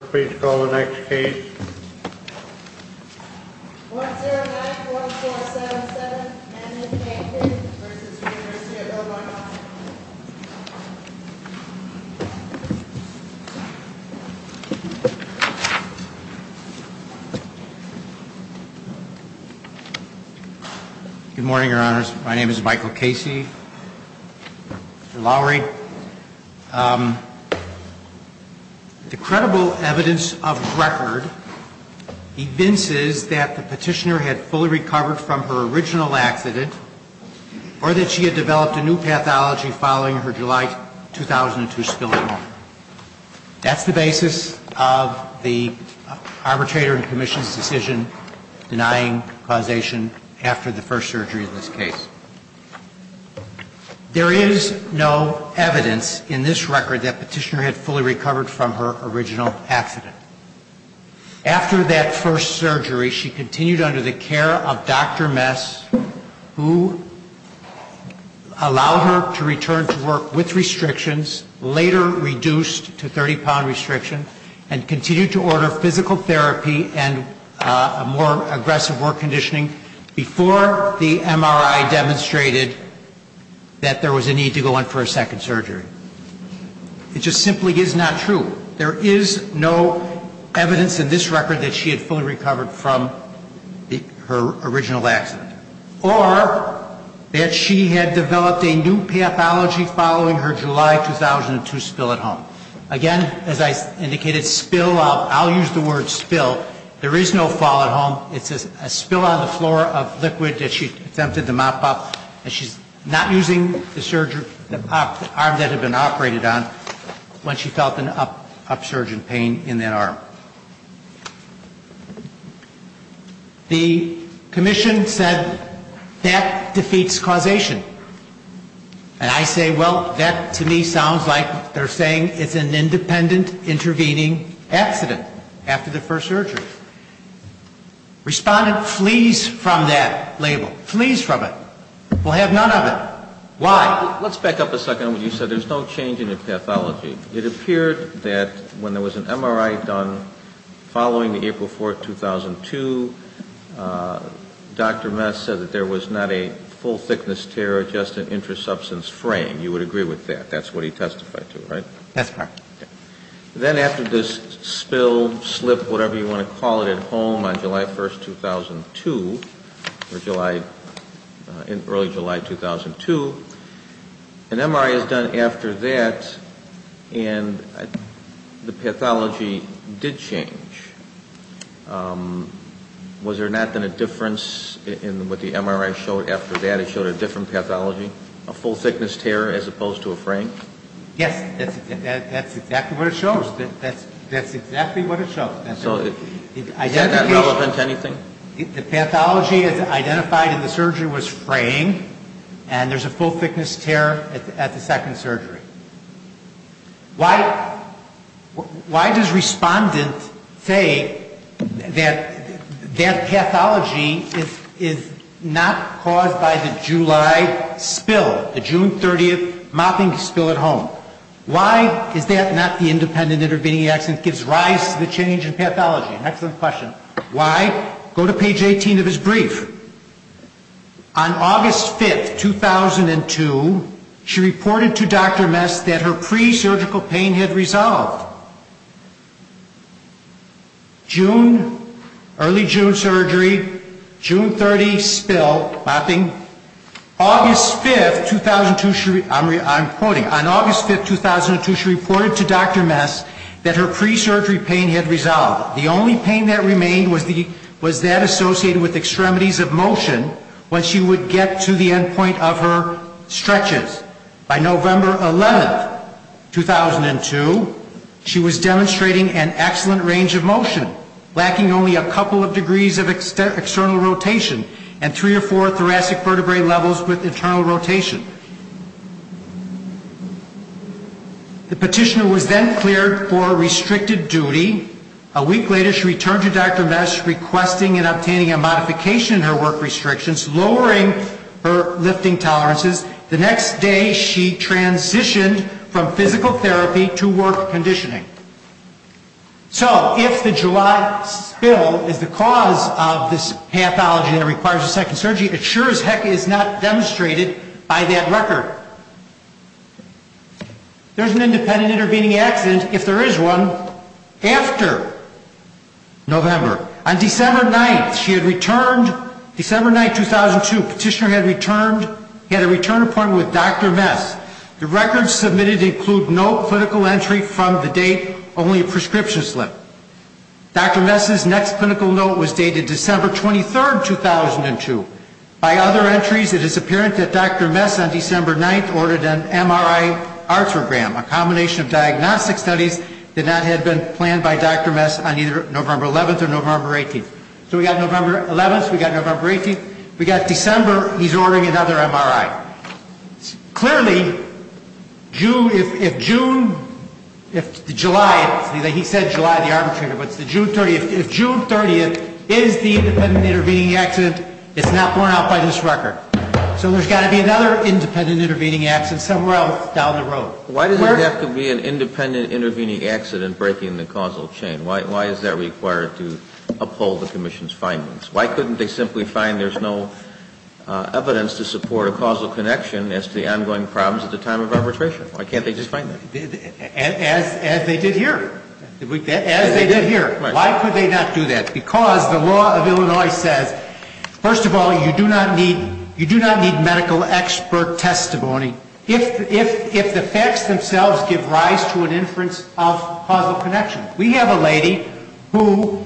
Good morning, your honors. My name is Michael Casey Lowry. The credible evidence of record evinces that the petitioner had fully recovered from her original accident or that she had developed a new pathology following her July 2002 spilling over. That's the basis of the arbitrator and commission's decision denying causation after the first surgery in this case. There is no evidence in this record that the petitioner had fully recovered from her original accident. After that first surgery, she continued under the care of Dr. Mess, who allowed her to return to work with restrictions, later reduced to 30-pound restrictions, and continued to order physical therapy and more aggressive work before the MRI demonstrated that there was a need to go on for a second surgery. It just simply is not true. There is no evidence in this record that she had fully recovered from her original accident or that she had developed a new pathology following her July 2002 spill at home. Again, as I indicated, spill, I'll use the word spill. There is no fall at home. It's a spill on the floor of liquid that she attempted to mop up, and she's not using the arm that had been operated on when she felt an upsurge in pain in that arm. The commission said that defeats causation. And I say, well, that to me sounds like they're saying it's an independent intervening accident after the first surgery. Respondent flees from that label, flees from it. We'll have none of it. Why? Let's back up a second on what you said. There's no change in the pathology. It appeared that when there was an MRI done following the April 4th, 2002, Dr. Mess said that there was not a full thickness tear, just an intrasubstance fraying. You would agree with that. That's what he testified to, right? Then after this spill, slip, whatever you want to call it, at home on July 1st, 2002, early July 2002, an MRI is done after that, and the pathology did change. Was there not then a difference in what the MRI showed after that? It showed a different pathology? A full thickness tear as opposed to a fraying? Yes. That's exactly what it shows. That's exactly what it shows. So is that not relevant to anything? The pathology is identified in the surgery was fraying, and there's a full thickness tear at the second pathology is not caused by the July spill, the June 30th mopping spill at home. Why is that not the independent intervening accident that gives rise to the change in pathology? Excellent question. Why? Go to page 18 of his brief. On August 5th, 2002, she reported to Dr. Mess that her presurgical pain had resolved. June, early June surgery, June 30th spill, mopping. August 5th, 2002, I'm quoting, on August 5th, 2002, she reported to Dr. Mess that her presurgery pain had resolved. The only pain that remained was that associated with extremities of motion when she would get to the end point of her stretches. By November 11th, 2002, she had resolved. She was demonstrating an excellent range of motion, lacking only a couple of degrees of external rotation and three or four thoracic vertebrae levels with internal rotation. The petitioner was then cleared for restricted duty. A week later, she returned to Dr. Mess requesting and obtaining a modification in her work restrictions, lowering her lifting tolerances. The next day, she transitioned from physical therapy to work conditioning. So if the July spill is the cause of this pathology that requires a second surgery, it sure as heck is not demonstrated by that record. There's an independent intervening accident, if there is one, after November. On December 9th, she had returned, December 9th, 2002, petitioner had returned, he had a return appointment with Dr. Mess. He had no clinical entry from the date, only a prescription slip. Dr. Mess's next clinical note was dated December 23rd, 2002. By other entries, it is apparent that Dr. Mess on December 9th ordered an MRI arthrogram, a combination of diagnostic studies that had not been planned by Dr. Mess on either November 11th or November 18th. So we got November 11th, we got November 18th, we got December, he's ordering another MRI. Clearly, if June, if July, he said July of the arm trigger, but if June 30th is the independent intervening accident, it's not borne out by this record. So there's got to be another independent intervening accident somewhere else down the road. Why does it have to be an independent intervening accident breaking the causal chain? Why is that required to uphold the causal connection as to the ongoing problems at the time of arbitration? Why can't they just find that? As they did here. As they did here. Why could they not do that? Because the law of Illinois says, first of all, you do not need medical expert testimony if the facts themselves give rise to an inference of causal connection. We have a lady who has a problem.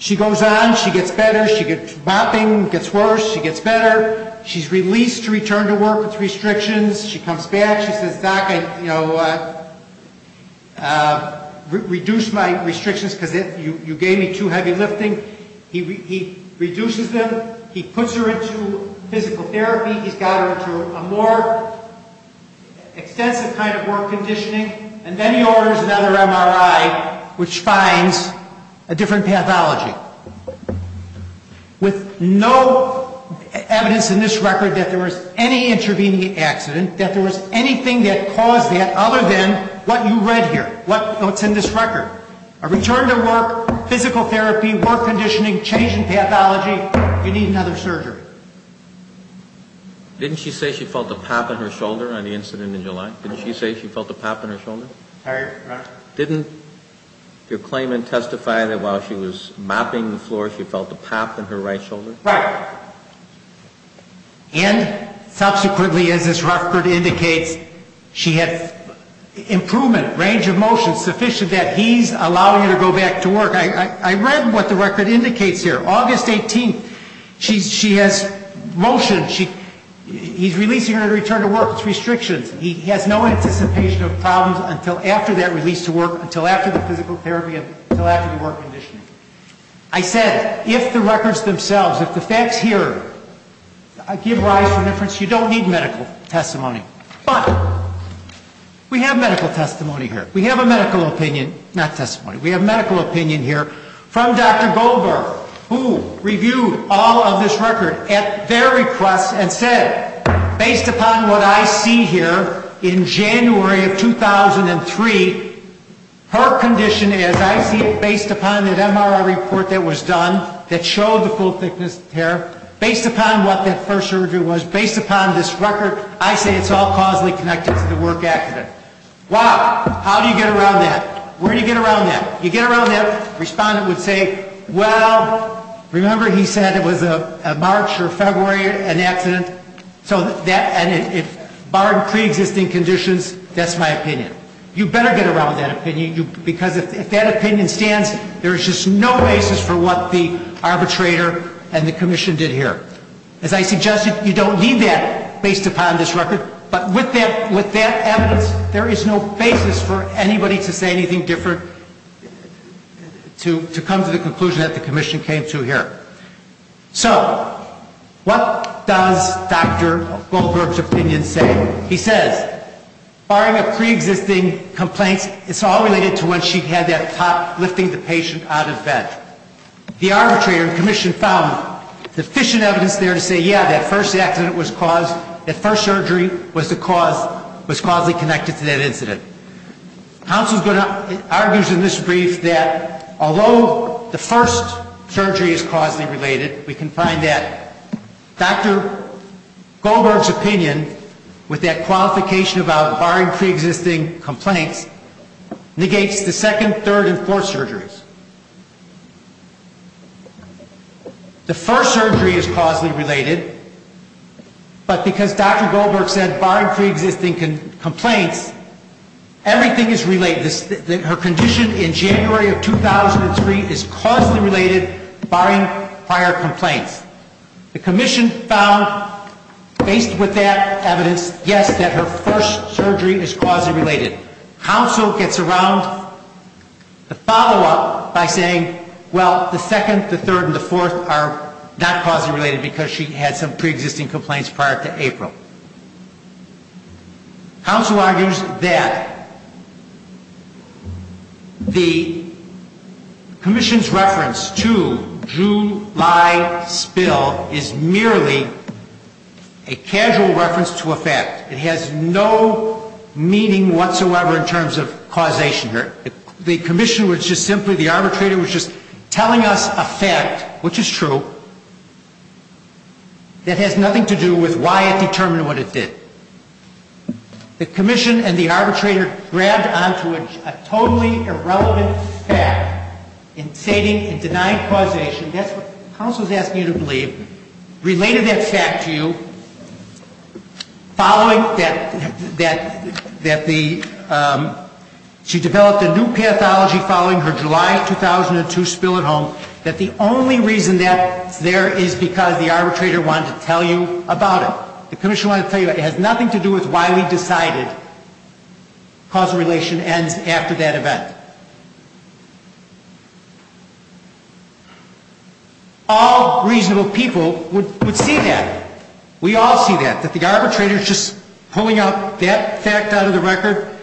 She goes on. She gets better. She gets, bopping, gets worse. She gets better. She's released to return to work with restrictions. She comes back. She says, Doc, I, you know, reduced my restrictions because you gave me too heavy lifting. He reduces them. He puts her into physical therapy. He's got her into a more extensive kind of work conditioning. And then he orders another MRI, which finds a different pathology. With no evidence in this record that there was any intervening accident, that there was anything that caused that other than what you read here, what's in this record. A return to work, physical therapy, work conditioning, change in pathology, you need another surgery. Didn't she say she felt a pop in her shoulder on the incident in July? Didn't she say she felt a pop in her shoulder? Didn't your claimant testify that while she was bopping the floor, she felt a pop in her right shoulder? Right. And subsequently, as this record indicates, she had improvement, range of motion sufficient that he's allowing her to go back to work. He has motion, he's releasing her to return to work with restrictions. He has no anticipation of problems until after that release to work, until after the physical therapy, until after the work conditioning. I said, if the records themselves, if the facts here give rise to inference, you don't need medical testimony. But we have medical testimony here. We have a medical opinion, not testimony. We have medical opinion here from Dr. Goldberg, who reviewed all of this record and at their request and said, based upon what I see here in January of 2003, her condition, as I see it, based upon that MRI report that was done, that showed the full thickness of hair, based upon what that first surgery was, based upon this record, I say it's all causally connected to the work accident. Why? How do you get around that? Where do you get around that? You get around that, the respondent would say, well, remember he said it was a March or February, an accident, so that, and barred preexisting conditions, that's my opinion. You better get around that opinion, because if that opinion stands, there is just no basis for what the arbitrator and the commission did here. As I suggested, you don't need that based upon this record, but with that evidence, there is no basis for anybody to say anything different to come to the conclusion that the patient came to here. So what does Dr. Goldberg's opinion say? He says, barring a preexisting complaint, it's all related to when she had that pop lifting the patient out of bed. The arbitrator and commission found sufficient evidence there to say, yeah, that first accident was caused, that first surgery was the cause, was causally connected to that incident. Counsel argues in this brief that although the first surgery was causally related, we can find that Dr. Goldberg's opinion, with that qualification about barring preexisting complaints, negates the second, third, and fourth surgeries. The first surgery is causally related, but because Dr. Goldberg said barring preexisting complaints, everything is causally related, and January of 2003 is causally related, barring prior complaints. The commission found, based with that evidence, yes, that her first surgery is causally related. Counsel gets around the follow-up by saying, well, the second, the third, and the fourth are not causally related because she had some preexisting complaints prior to April. Counsel argues that the first surgery is causally related, but the second, the third, and the fourth are not causally related. The second surgery is causally related, but the third, the fourth, and the fifth are not causally related. Counsel argues that the commission's reference to July spill is merely a casual reference to a fact. It has no meaning whatsoever in terms of causation here. The commission was just simply, the arbitrator was just telling us a fact, which is true, that has nothing to do with why it determined what it did. The commission and the arbitrator grabbed onto a totally irrelevant fact in stating and denying causation. That's what counsel is asking you to believe. Related that fact to you, following that the, she developed a new pathology following her July spill. That's what counsel is asking you to believe. Related that fact to you, following her July 2002 spill at home, that the only reason that there is because the arbitrator wanted to tell you about it. The commission wanted to tell you it has nothing to do with why we decided causation ends after that event. All reasonable people would see that. We all see that, that the arbitrator is just pulling out that fact out of the record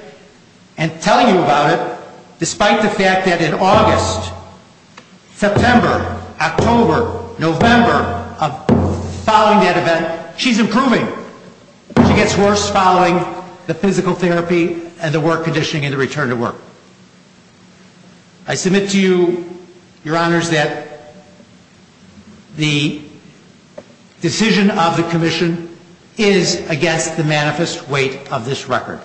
and telling you about it, despite the fact that in August, September, October, November, of following that event, she's improving. She gets worse following the physical therapy and the work conditioning and the return to work. I submit to you, your honors, that the decision of the commission is against causation. It is against causation. It is against causation. It is against the manifest weight of this record.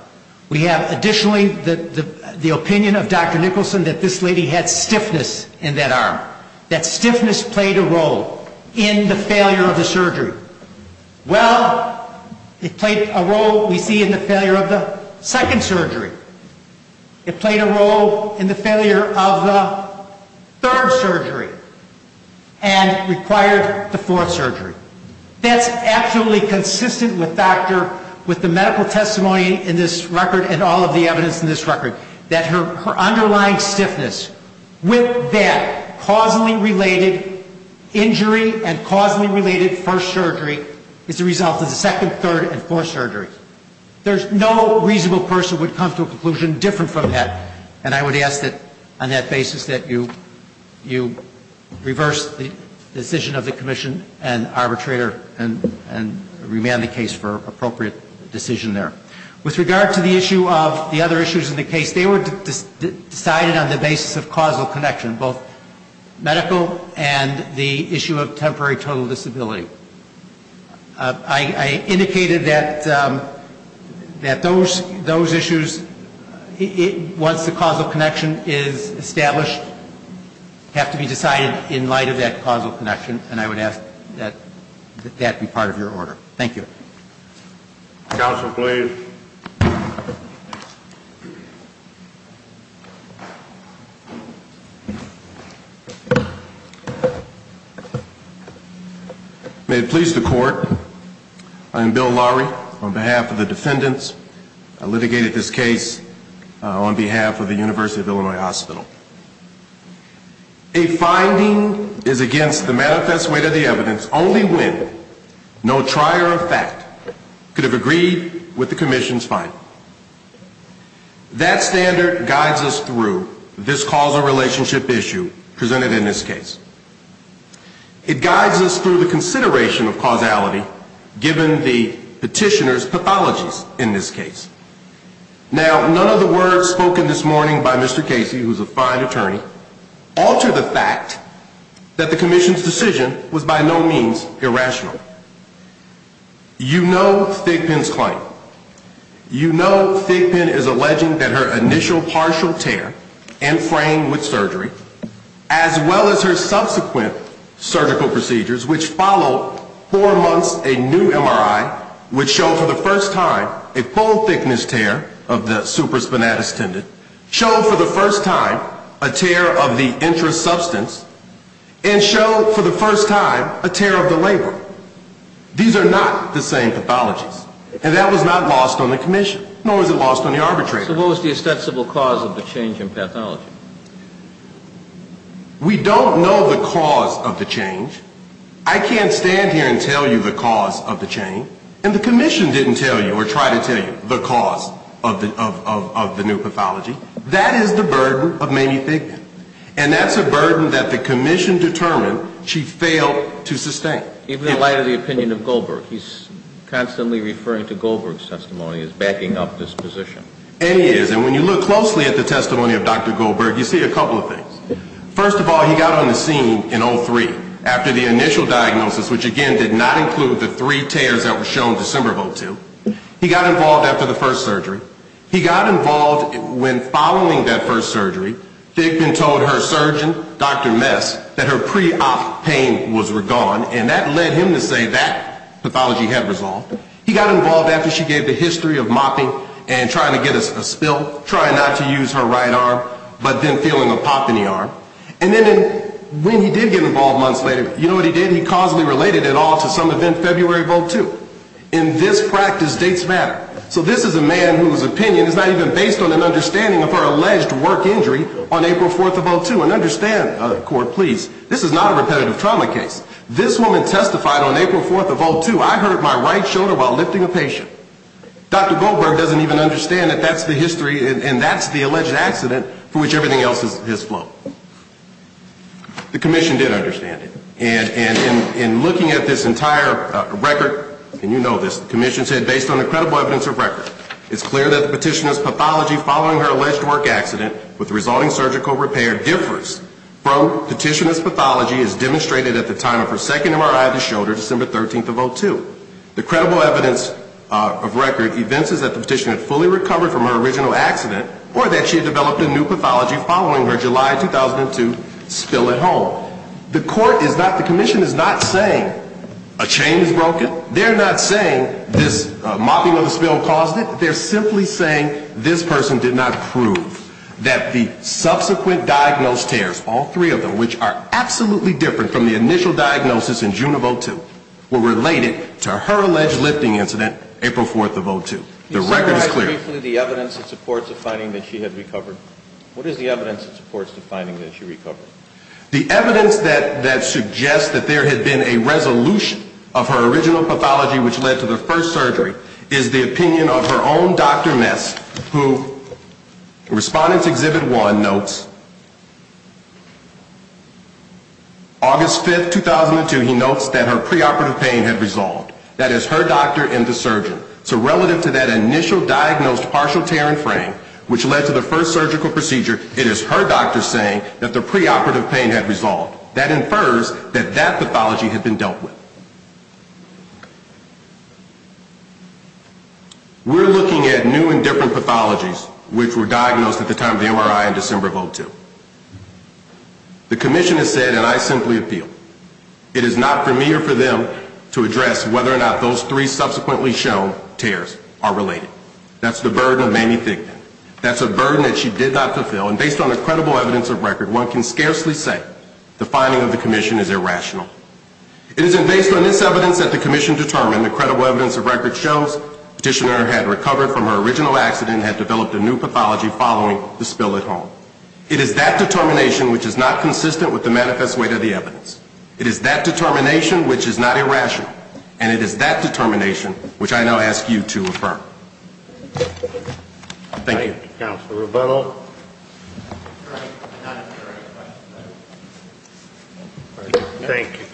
We have additionally the opinion of Dr. Nicholson that this lady had stiffness in that arm. That stiffness played a role in the failure of the surgery. Well, it played a role, we see, in the failure of the second surgery. It played a role in the failure of the third surgery and required the fourth surgery. That's absolutely consistent with the medical testimony in this record and all of the evidence in this record, that her underlying stiffness with that causally related injury and causally related first surgery is the result of the second, third, and fourth surgery. There's no reasonable person would come to a conclusion different from that. And I would ask that on that basis that you reverse the decision of the commission and arbitrator and remand the case for appropriate decision there. With regard to the issue of the other issues in the case, they were decided on the basis of causal connection, both medical and the issue of temporary total disability. I indicated that those issues, once the causal connection is established, have to be decided in light of that causal connection, and I would ask that that be part of your order. Thank you. Counsel, please. May it please the Court, I am Bill Lowry on behalf of the defendants. I litigated this case on behalf of the University of Illinois Hospital. A finding is against the manifest weight of the evidence only when no trier of fact could have agreed with the commission's finding. That standard guides us through this causal relationship issue presented in this case. It guides us through the consideration of causality given the petitioner's pathologies in this case. Now, none of the words spoken this morning by Mr. Casey, who is a fine attorney, alter the fact that the commission's decision was by no means irrational. You know Thigpen's claim. You know Thigpen is alleging that her initial partial tear and frame with surgery was caused by the fact that the patient's initial partial tear and frame, as well as her subsequent surgical procedures, which followed four months of a new MRI, would show for the first time a full thickness tear of the supraspinatus tendon, show for the first time a tear of the intra-substance, and show for the first time a tear of the labrum. These are not the same pathologies, and that was not lost on the commission, nor was it lost on the arbitrator. So what was the ostensible cause of the change in pathology? We don't know the cause of the change. I can't stand here and tell you the cause of the change, and the commission didn't tell you or try to tell you the cause of the new pathology. That is the burden of Mamie Thigpen, and that's a burden that the commission determined she failed to sustain. Even in light of the opinion of Goldberg, he's constantly referring to Goldberg's testimony as backing up this position. And he is, and when you look closely at the testimony of Dr. Goldberg, you see a couple of things. First of all, he got on the scene in 03, after the initial diagnosis, which again did not include the three tears that were shown in December of 02. He got involved after the first surgery. He got involved when following that first surgery, Thigpen told her surgeon, Dr. Mess, that her pre-op pain was gone, and that led him to say that pathology had resolved. He got involved after she gave the history of mopping and trying to get a pop in the arm. And then when he did get involved months later, you know what he did? He causally related it all to some event February of 02. In this practice, dates matter. So this is a man whose opinion is not even based on an understanding of her alleged work injury on April 4th of 02. And understand, court, please, this is not a repetitive trauma case. This woman testified on April 4th of 02. I hurt my right shoulder while I was in surgery, and that's the alleged accident for which everything else is his fault. The commission did understand it. And in looking at this entire record, and you know this, the commission said, based on the credible evidence of record, it's clear that the petitioner's pathology following her alleged work accident with the resulting surgical repair differs from the petitioner's pathology as demonstrated at the time of her second MRI of the shoulder, December 13th of 02. The credible evidence of record evinces that the petitioner had fully recovered from her original accident or that she had developed a new pathology following her July 2002 spill at home. The court is not, the commission is not saying a chain is broken. They're not saying this mopping of the spill caused it. They're simply saying this person did not prove that the subsequent diagnosed tears, all three of them, which are absolutely different from the initial diagnosis in June of 02, were related to her alleged lifting incident, April 4th of 02. The record is clear. The evidence that suggests that there had been a resolution of her original pathology which led to the first surgery is the opinion of her own Dr. Mess, who in Respondent's Exhibit 1 notes, August 5th, 2002, he notes that her preoperative pain had resolved. That is her doctor and the surgeon. So relative to that initial diagnosed partial tear and fraying which led to the first surgical procedure, it is her doctor saying that the preoperative pain had resolved. That infers that that pathology had been dealt with. We're looking at new and different pathologies which were diagnosed at the time of the MRI in December of 02. The commission has said, and I simply appeal, it is not for me or for them to address whether or not the patient was diagnosed with a partial tear or a partial fracture, but whether or not those three subsequently shown tears are related. That's the burden of Mamie Thigpen. That's a burden that she did not fulfill, and based on the credible evidence of record, one can scarcely say the finding of the commission is irrational. It isn't based on this evidence that the commission determined, the credible evidence of record shows the petitioner had recovered from her original accident and had been diagnosed with partial tear. It is that determination which I now ask you to affirm. Thank you. Thank you, Counselor.